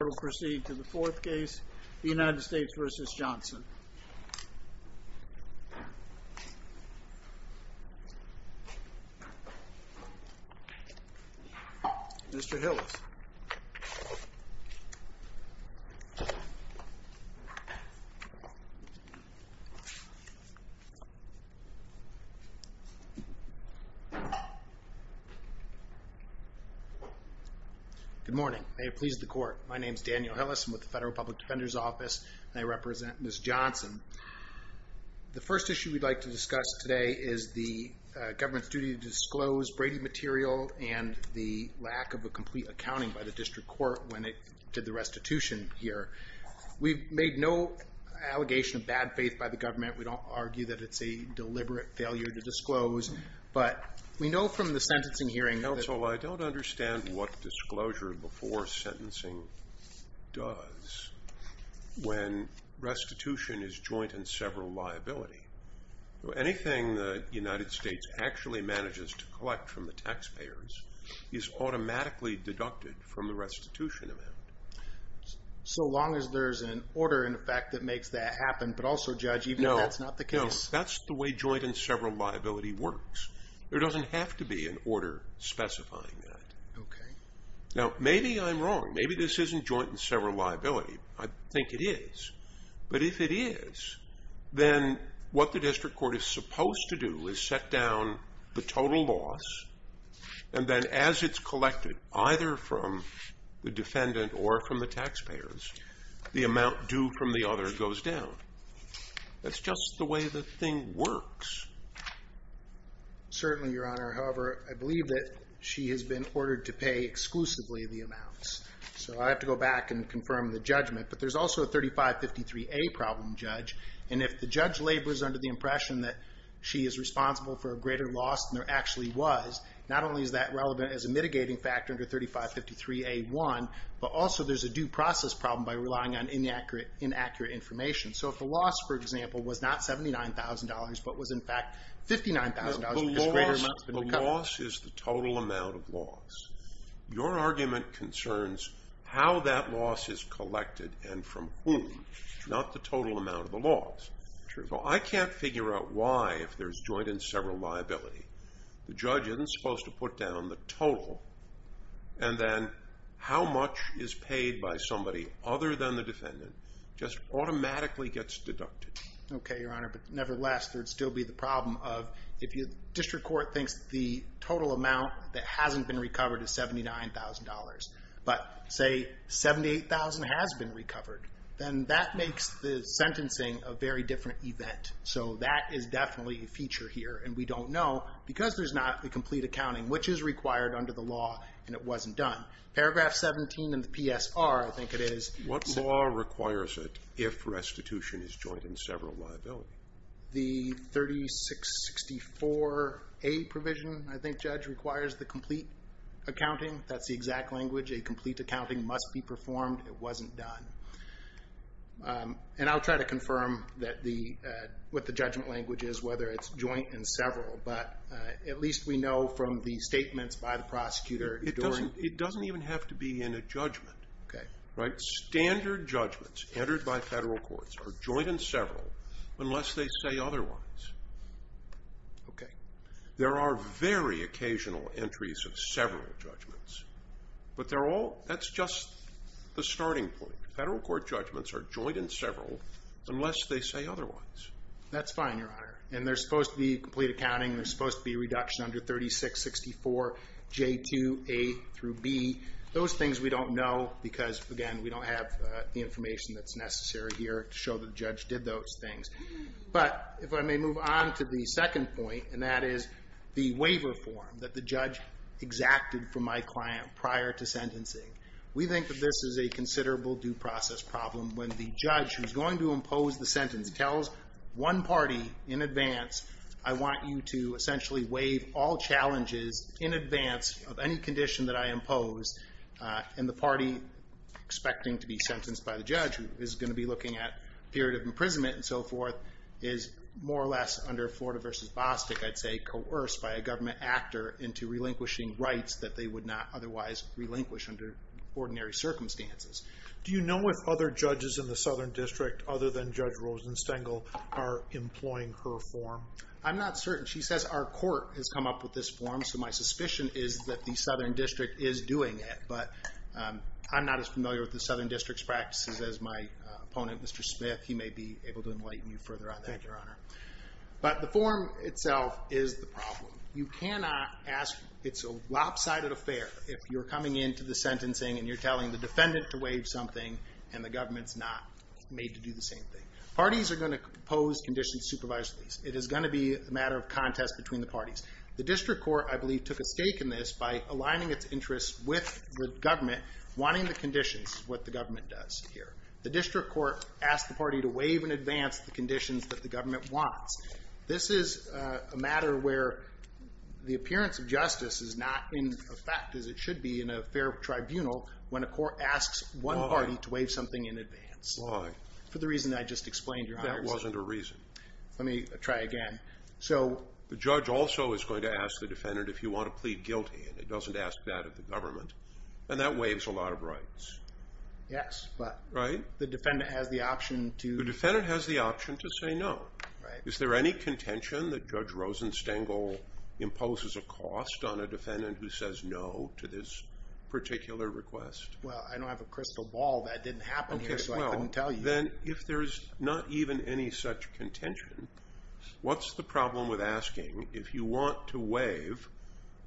We will proceed to the fourth case, the United States v. Johnson. Mr. Hillis. Good morning. May it please the Court. My name is Daniel Hillis. I'm with the Federal Public Defender's Office, and I represent Ms. Johnson. The first issue we'd like to discuss today is the government's duty to disclose Brady material and the lack of a sentencing by the district court when it did the restitution here. We've made no allegation of bad faith by the government. We don't argue that it's a deliberate failure to disclose, but we know from the sentencing hearing that... Counsel, I don't understand what disclosure before sentencing does when restitution is joint and several liability. Anything the United States actually manages to collect from the taxpayers is automatically deducted from the restitution amount. So long as there's an order in effect that makes that happen, but also, Judge, even if that's not the case... No. That's the way joint and several liability works. There doesn't have to be an order specifying that. Okay. Now, maybe I'm wrong. Maybe this isn't joint and several liability. I think it is. But if it is, then what the district court is supposed to do is set down the total loss, and then as it's collected, either from the defendant or from the taxpayers, the amount due from the other goes down. That's just the way the thing works. Certainly, Your Honor. However, I believe that she has been ordered to pay exclusively the amounts. So I have to go back and confirm the judgment. But there's also a 3553A problem, Judge. And if the judge labors under the impression that she is responsible for a greater loss than there actually was, not only is that relevant as a mitigating factor under 3553A1, but also there's a due process problem by relying on inaccurate information. So if the loss, for example, was not $79,000, but was in fact $59,000... The loss is the total amount of loss. Your argument concerns how that loss is collected and from whom, not the total amount of the loss. So I can't figure out why, if there's joint and several liability, the judge isn't supposed to put down the total. And then how much is paid by somebody other than the defendant just automatically gets deducted. Okay, Your Honor. But nevertheless, there would still be the problem of if the district court thinks the total amount that hasn't been recovered is $79,000, but say $78,000 has been recovered, then that makes the sentencing a very different event. So that is definitely a feature here. And we don't know, because there's not complete accounting, which is required under the law and it wasn't done. Paragraph 17 in the PSR, I think it is. What law requires it if restitution is joint and several liability? The 3664A provision, I think, Judge, requires the complete accounting. That's the exact language. A complete accounting must be performed. It wasn't done. And I'll try to confirm what the judgment language is, whether it's joint and several. But at least we know from the statements by the prosecutor. It doesn't even have to be in a judgment. Standard judgments entered by federal courts are joint and several unless they say otherwise. Okay. There are very occasional entries of several judgments. But that's just the starting point. Federal court judgments are joint and several unless they say otherwise. That's fine, Your Honor. And there's supposed to be complete accounting. There's supposed to be reduction under 3664J2A through B. Those things we don't know because, again, we don't have the information that's necessary here to show the judge did those things. But if I may move on to the second point, and that is the waiver form that the judge exacted from my client prior to sentencing. We think that this is a one party in advance. I want you to essentially waive all challenges in advance of any condition that I impose. And the party expecting to be sentenced by the judge who is going to be looking at period of imprisonment and so forth is more or less under Florida versus Bostick, I'd say, coerced by a government actor into relinquishing rights that they would not otherwise relinquish under ordinary circumstances. Do you know if other judges in the Southern District, other than Judge Rosenstengel, are employing her form? I'm not certain. She says our court has come up with this form, so my suspicion is that the Southern District is doing it. But I'm not as familiar with the Southern District's practices as my opponent, Mr. Smith. He may be able to enlighten you further on that, Your Honor. But the form itself is the problem. You cannot ask it's a lopsided affair if you're coming into the sentencing and you're telling the defendant to waive something and the government's not made to do the same thing. Parties are going to propose conditions supervised release. It is going to be a matter of contest between the parties. The district court, I believe, took a stake in this by aligning its interests with the government, wanting the conditions, what the government does here. The district court asked the party to waive in advance the conditions that the government wants. This is a matter where the appearance of justice is not in effect as it should be in a fair tribunal when a court asks one party to waive something in advance. For the reason I just explained, Your Honor. That wasn't a reason. Let me try again. The judge also is going to ask the defendant if you want to plead guilty and it doesn't ask that of the government. And that waives a lot of rights. Yes, but the defendant has the option to say no. Is there any contention that Judge Rosenstengel imposes a cost on a defendant who says no to this particular request? Well, I don't have a crystal ball that didn't happen here so I couldn't tell you. Then if there's not even any such contention, what's the problem with asking if you want to waive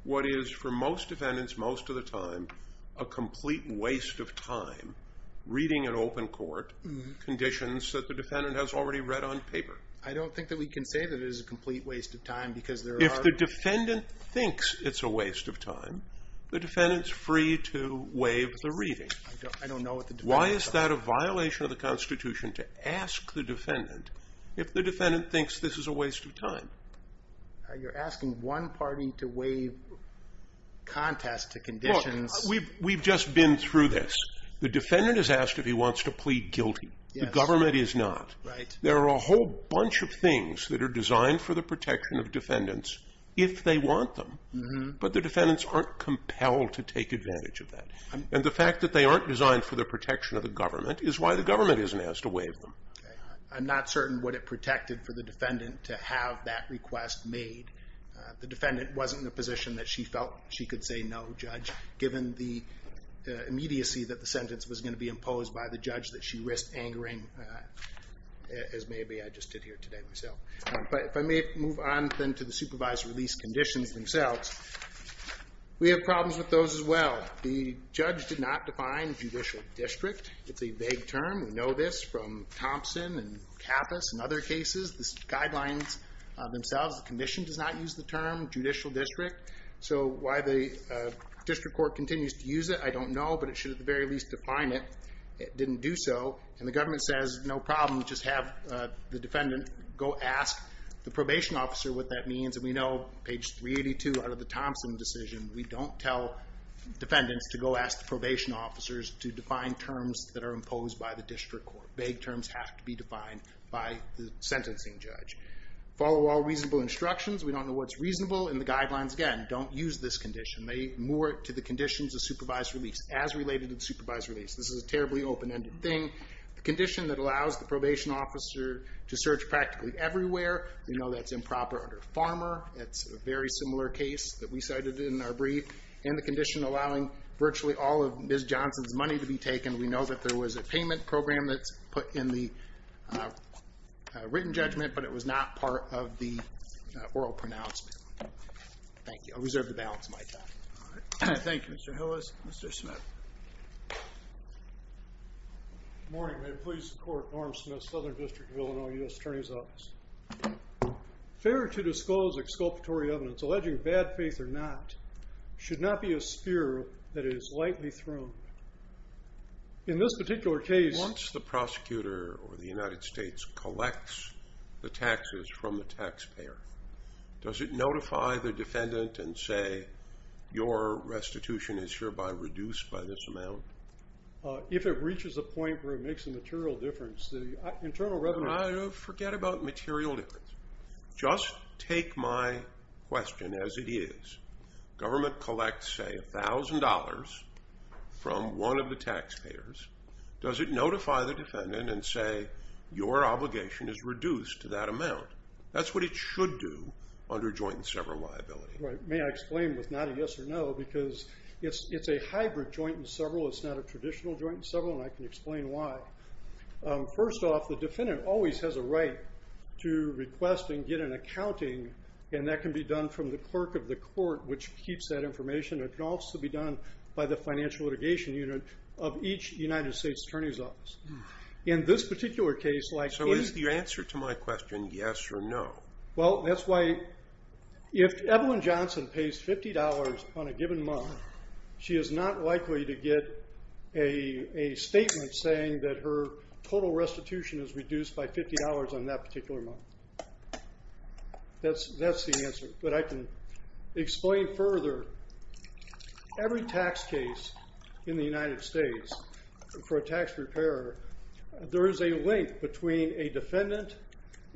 what is for most defendants most of the time a complete waste of time reading an open court conditions that the defendant has already read on paper? I don't think that we can say that it is a complete waste of time because there are... If the defendant thinks it's a waste of time, the defendant's free to waive the reading. I don't know what the defendant... Why is that a violation of the Constitution to ask the defendant if the defendant thinks this is a waste of time? You're asking one party to waive contest to conditions. Look, we've just been through this. The defendant is asked if he wants to plead guilty. The government is not. Right. There are a whole bunch of things that are designed for the protection of defendants if they want them. But the defendants aren't compelled to take advantage of that. And the fact that they aren't designed for the protection of the government is why the government isn't asked to waive them. I'm not certain what it protected for the defendant to have that request made. The defendant wasn't in a position that she felt she could say no, Judge, given the immediacy that the sentence was going to be imposed by the judge that she risked angering, as maybe I just did here today myself. But if I may move on then to the supervised release conditions themselves. We have problems with those as well. The judge did not define judicial district. It's a vague term. We know this from Thompson and Kappas and other cases. The guidelines themselves, the condition does not use the term judicial district. So why the district court continues to use it, I don't know, but it should at the very least define it. It didn't do so. And the government says, no problem, just have the defendant go ask the probation officer what that means. And we know, page 382 out of the Thompson decision, we don't tell defendants to go ask the probation officers to define terms that are imposed by the district court. Vague terms have to be defined by the sentencing judge. Follow all reasonable instructions. We don't know what's reasonable. And the guidelines, again, don't use this condition. They move it to the conditions of supervised release, as related to supervised release. This is a terribly open-ended thing. The condition that allows the probation officer to search practically everywhere, we know that's improper under Farmer. It's a very similar case that we cited in our brief. And the condition allowing virtually all of Ms. Johnson's money to be taken, we know that there was a payment program that's put in the written judgment, but it was not part of the oral pronouncement. Thank you. I reserve the balance of my time. Thank you, Mr. Hillis. Mr. Smith. Good morning. May it please the court, Norm Smith, Southern District of Illinois U.S. Attorney's Office. Fair to disclose exculpatory evidence alleging bad faith or not should not be a spear that is lightly thrown. In this particular case... Once the prosecutor or the United States collects the taxes from the taxpayer, does it notify the defendant and say your restitution is hereby reduced by this amount? If it reaches a point where it makes a material difference, the internal revenue... Forget about material difference. Just take my question as it is. Government collects, say, a thousand dollars from one of the taxpayers. Does it notify the defendant and say your obligation is reduced to that amount? That's what it should do under joint and several liability. May I explain with not a yes or no, because it's a hybrid joint and several. It's not a traditional joint and several, and I can explain why. First off, the defendant always has a right to request and get an accounting, and that can be done from the clerk of the court, which keeps that information. It can also be done by the financial litigation unit of each United States Attorney's office. In this particular case... So is your answer to my question yes or no? If Evelyn Johnson pays $50 on a given month, she is not likely to get a statement saying that her total restitution is reduced by $50 on that particular month. That's the answer, but I can explain further. Every tax case in the United States for a tax preparer, there is a link between a defendant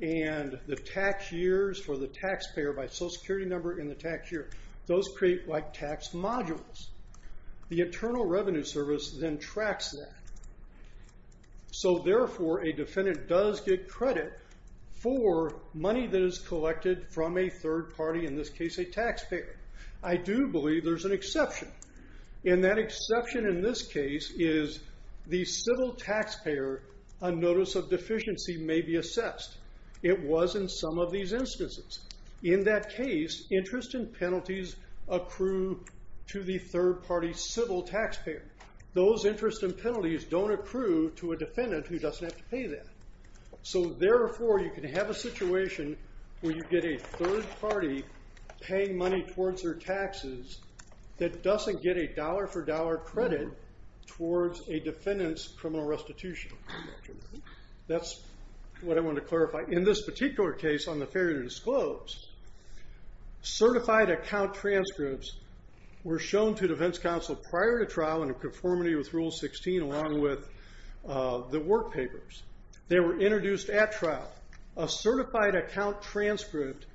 and the tax years for the taxpayer by Social Security number and the tax year. Those create like tax modules. The Internal Revenue Service then tracks that. So therefore, a defendant does get credit for money that is collected from a third party, in this case a taxpayer. I do believe there's an exception. And that exception in this case is the civil taxpayer on notice of deficiency may be assessed. It was in some of these instances. In that case, interest and penalties accrue to the defendant who doesn't have to pay that. So therefore, you can have a situation where you get a third party paying money towards their taxes that doesn't get a dollar for dollar credit towards a defendant's criminal restitution. That's what I wanted to clarify. In this particular case on the failure to disclose, certified account transcripts were shown to defense counsel prior to trial in conformity with Rule 16 along with the work papers. They were introduced at trial. A certified account transcript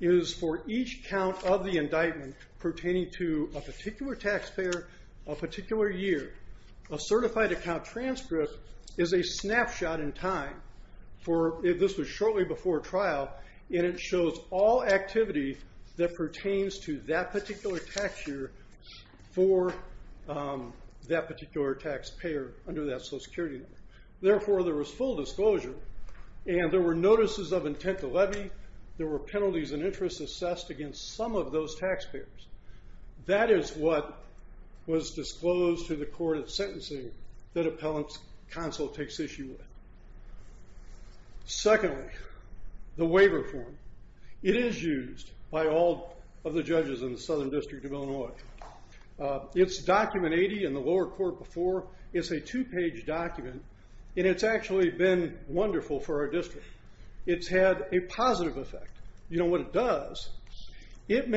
is for each count of the indictment pertaining to a particular taxpayer, a particular year. A certified account transcript is a snapshot in time. This was shortly before trial. And it shows all activity that pertains to that particular tax year for that particular taxpayer under that social security number. Therefore, there was full disclosure. And there were notices of intent to levy. There were penalties and interest assessed against some of those taxpayers. That is what was disclosed to the court of sentencing that appellant's counsel takes issue with. Secondly, the waiver form. It is used by all of the judges in the Southern District of Illinois. It's document 80 in the lower court before. It's a two page document. And it's actually been wonderful for our district. It's had a positive effect. You know what it does? And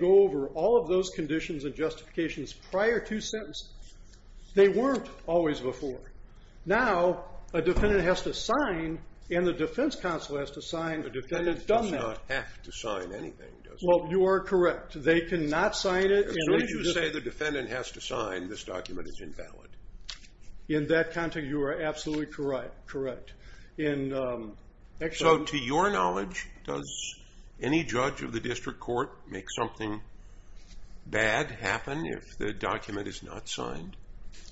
go over all of those conditions and justifications prior to sentencing. They weren't always before. Now, a defendant has to sign and the defense counsel has to sign. The defendant does not have to sign anything, does he? Well, you are correct. They cannot sign it. And so you say the defendant has to sign. This document is invalid. In that context, you are absolutely correct. So, to your knowledge, does any judge of the district court make something bad happen if the document is not signed?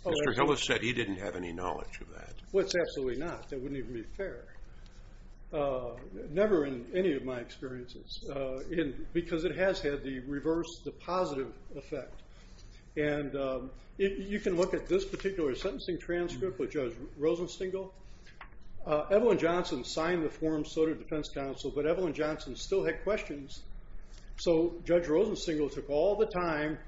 Mr. Hillis said he didn't have any knowledge of that. Well, it's absolutely not. That wouldn't even be fair. Never in any of my experiences. Because it has had the reverse, the positive effect. And you can look at this particular sentencing transcript with Judge Rosenstengel. Evelyn Johnson signed the form, so did the defense counsel, but Evelyn Johnson still had questions. So Judge Rosenstengel took all the time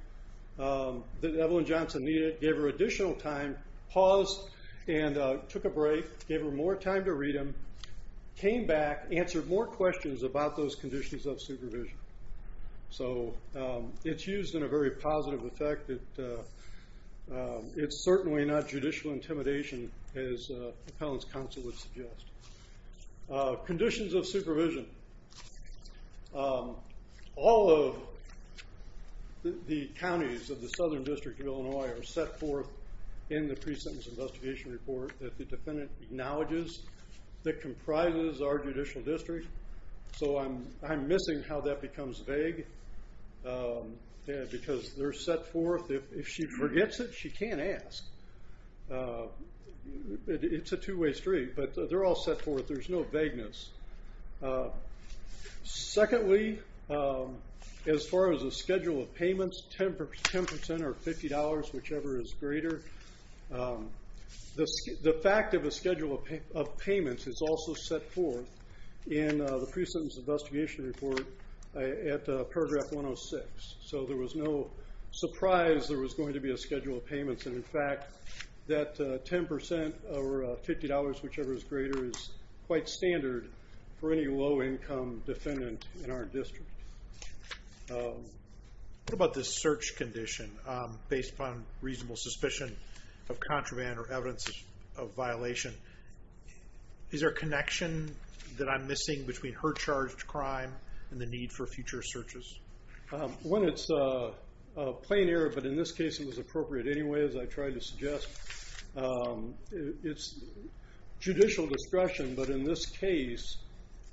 that Evelyn Johnson needed, gave her additional time, paused and took a break, gave her more time to read them, came back, answered more questions about those and the positive effect. It's certainly not judicial intimidation as the appellant's counsel would suggest. Conditions of supervision. All of the counties of the Southern District of Illinois are set forth in the pre-sentence investigation report that the defendant acknowledges that comprises our judicial district. So I'm missing how that becomes vague because they're set forth. If she forgets it, she can't ask. It's a two-way street, but they're all set forth. There's no vagueness. Secondly, as far as the schedule of payments, 10% or $50, whichever is greater. The fact of a schedule of payments is also set forth in the pre-sentence investigation report at paragraph 106. So there was no surprise there was going to be a schedule of payments, and in fact that 10% or $50, whichever is greater, is quite standard for any low-income defendant in our district. What about this search condition based upon reasonable suspicion of contraband or evidence of violation? Is there a connection that I'm missing between her charged crime and the need for future searches? One, it's a plain error, but in this case it was appropriate anyway as I tried to suggest. It's judicial discretion, but in this case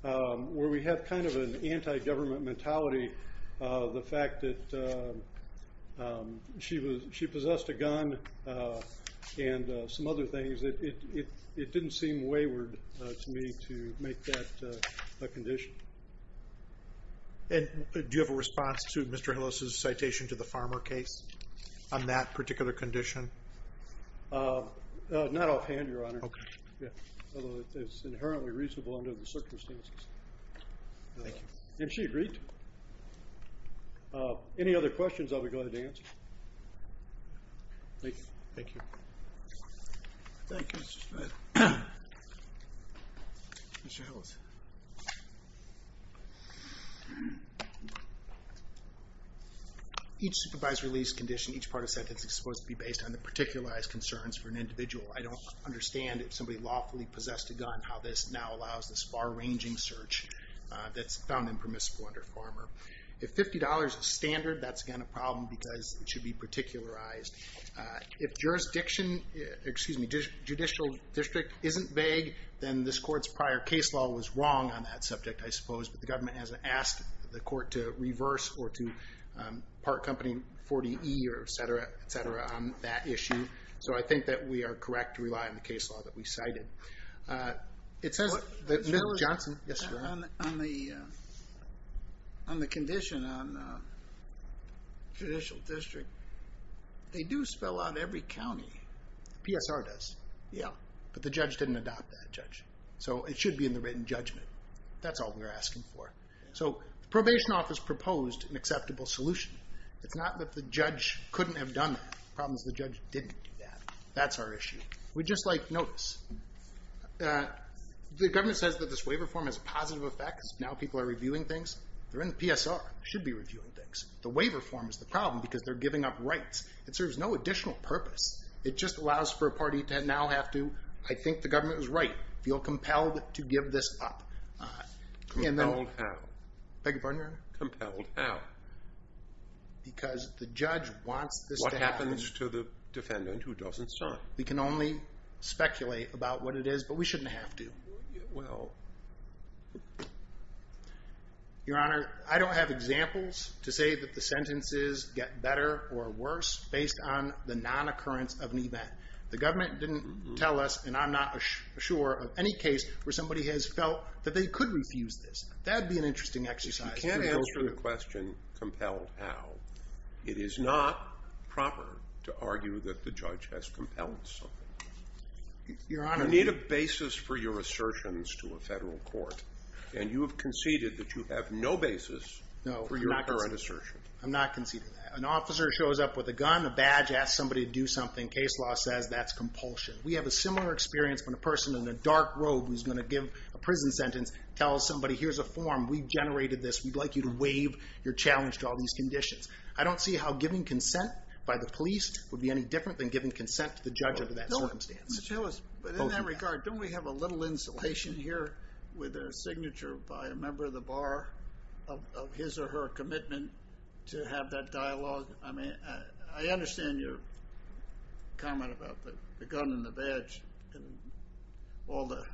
where we have kind of an anti-government mentality, the fact that she possessed a gun and some other things, it didn't seem wayward to me to make that a condition. Do you have a response to Mr. Hillis' citation to the farmer case on that particular condition? Not offhand, Your Honor. Okay. It's inherently reasonable under the circumstances. Thank you. And she agreed. Any other questions I'll be glad to answer. Thank you. Thank you. Mr. Hillis. Each supervised release condition, each part of the sentence is supposed to be based on the particularized concerns for an individual. I don't understand if somebody lawfully possessed a gun how this now allows this far-ranging search that's found impermissible under Farmer. If $50 is standard, that's again a problem because it should be particularized. If jurisdiction, excuse me, judicial district isn't vague, then this court's prior case law was wrong on that subject, I suppose, but the government hasn't asked the court to reverse or to part company 40E or et cetera on that issue. So I think that we are correct to rely on the case law that we cited. On the condition on judicial district, they do spell out every county. PSR does. Yeah. But the judge didn't adopt that, Judge. So it should be in the written judgment. That's all we're asking for. So the probation office proposed an acceptable solution. It's not that the judge couldn't have done that. The problem is the judge didn't do that. That's our issue. We'd just like notice. The government says that this waiver form has a positive effect Now people are reviewing things. They're in the PSR. They should be reviewing things. The waiver form is the problem because they're giving up rights. It serves no additional purpose. It just allows for a party to now have to, I think the government was right, feel compelled to give this up. Compelled how? Beg your pardon, Your Honor? Compelled how? Because the judge wants this to happen. What happens to the defendant who doesn't serve? We can only Your Honor, I don't have examples to say that the sentences get better or worse based on the non-occurrence of an event. The government didn't tell us, and I'm not sure of any case where somebody has felt that they could refuse this. That'd be an interesting exercise. You can't answer the question compelled how. It is not proper to argue that the judge has compelled something. You need a basis for your assertions to a federal court. And you have conceded that you have no basis for your current assertion. No, I'm not conceding that. An officer shows up with a gun, a badge, asks somebody to do something. Case law says that's compulsion. We have a similar experience when a person in a dark robe who's going to give a prison sentence tells somebody, here's a form. We've generated this. We'd like you to waive your challenge to all these conditions. I don't see how giving consent by the police would be any different than giving consent to the judge under that circumstance. But in that regard, don't we have a little insulation here with their signature by a member of the bar of his or her commitment to have that dialogue? I understand your comment about the gun and the badge and all that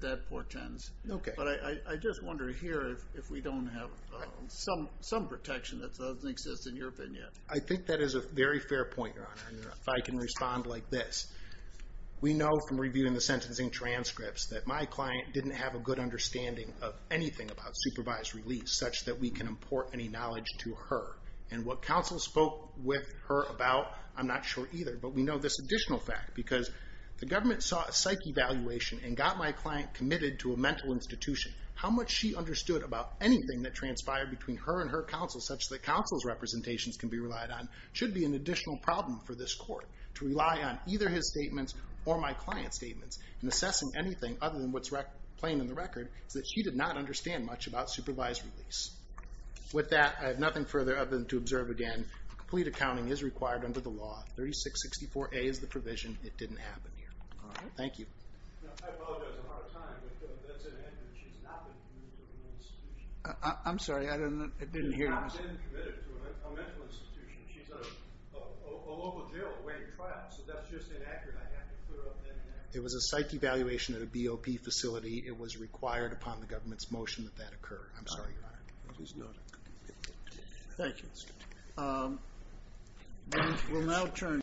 that portends. But I just wonder here if we don't have some protection that doesn't exist in your opinion. I think that is a very fair point, Your Honor, if I can respond like this. We know from reviewing the sentencing transcripts that my client didn't have a good understanding of anything about supervised release such that we can import any knowledge to her. And what counsel spoke with her about, I'm not sure either, but we know this additional fact because the government sought a psych evaluation and got my client committed to a mental institution. How much she understood about anything that transpired between her and her counsel such that counsel's representations can be relied on should be an additional problem for this court to rely on either his statements or my client's statements. And assessing anything other than what's plain in the record is that she did not understand much about supervised release. With that, I have nothing further to observe again. Complete accounting is required under the law. 3664A is the provision. It didn't happen here. Thank you. I'm sorry. I didn't hear. She's in a local jail awaiting trial. So that's just inaccurate. It was a psych evaluation at a BOP facility. It was required upon the government's motion that that occur. I'm sorry. Thank you.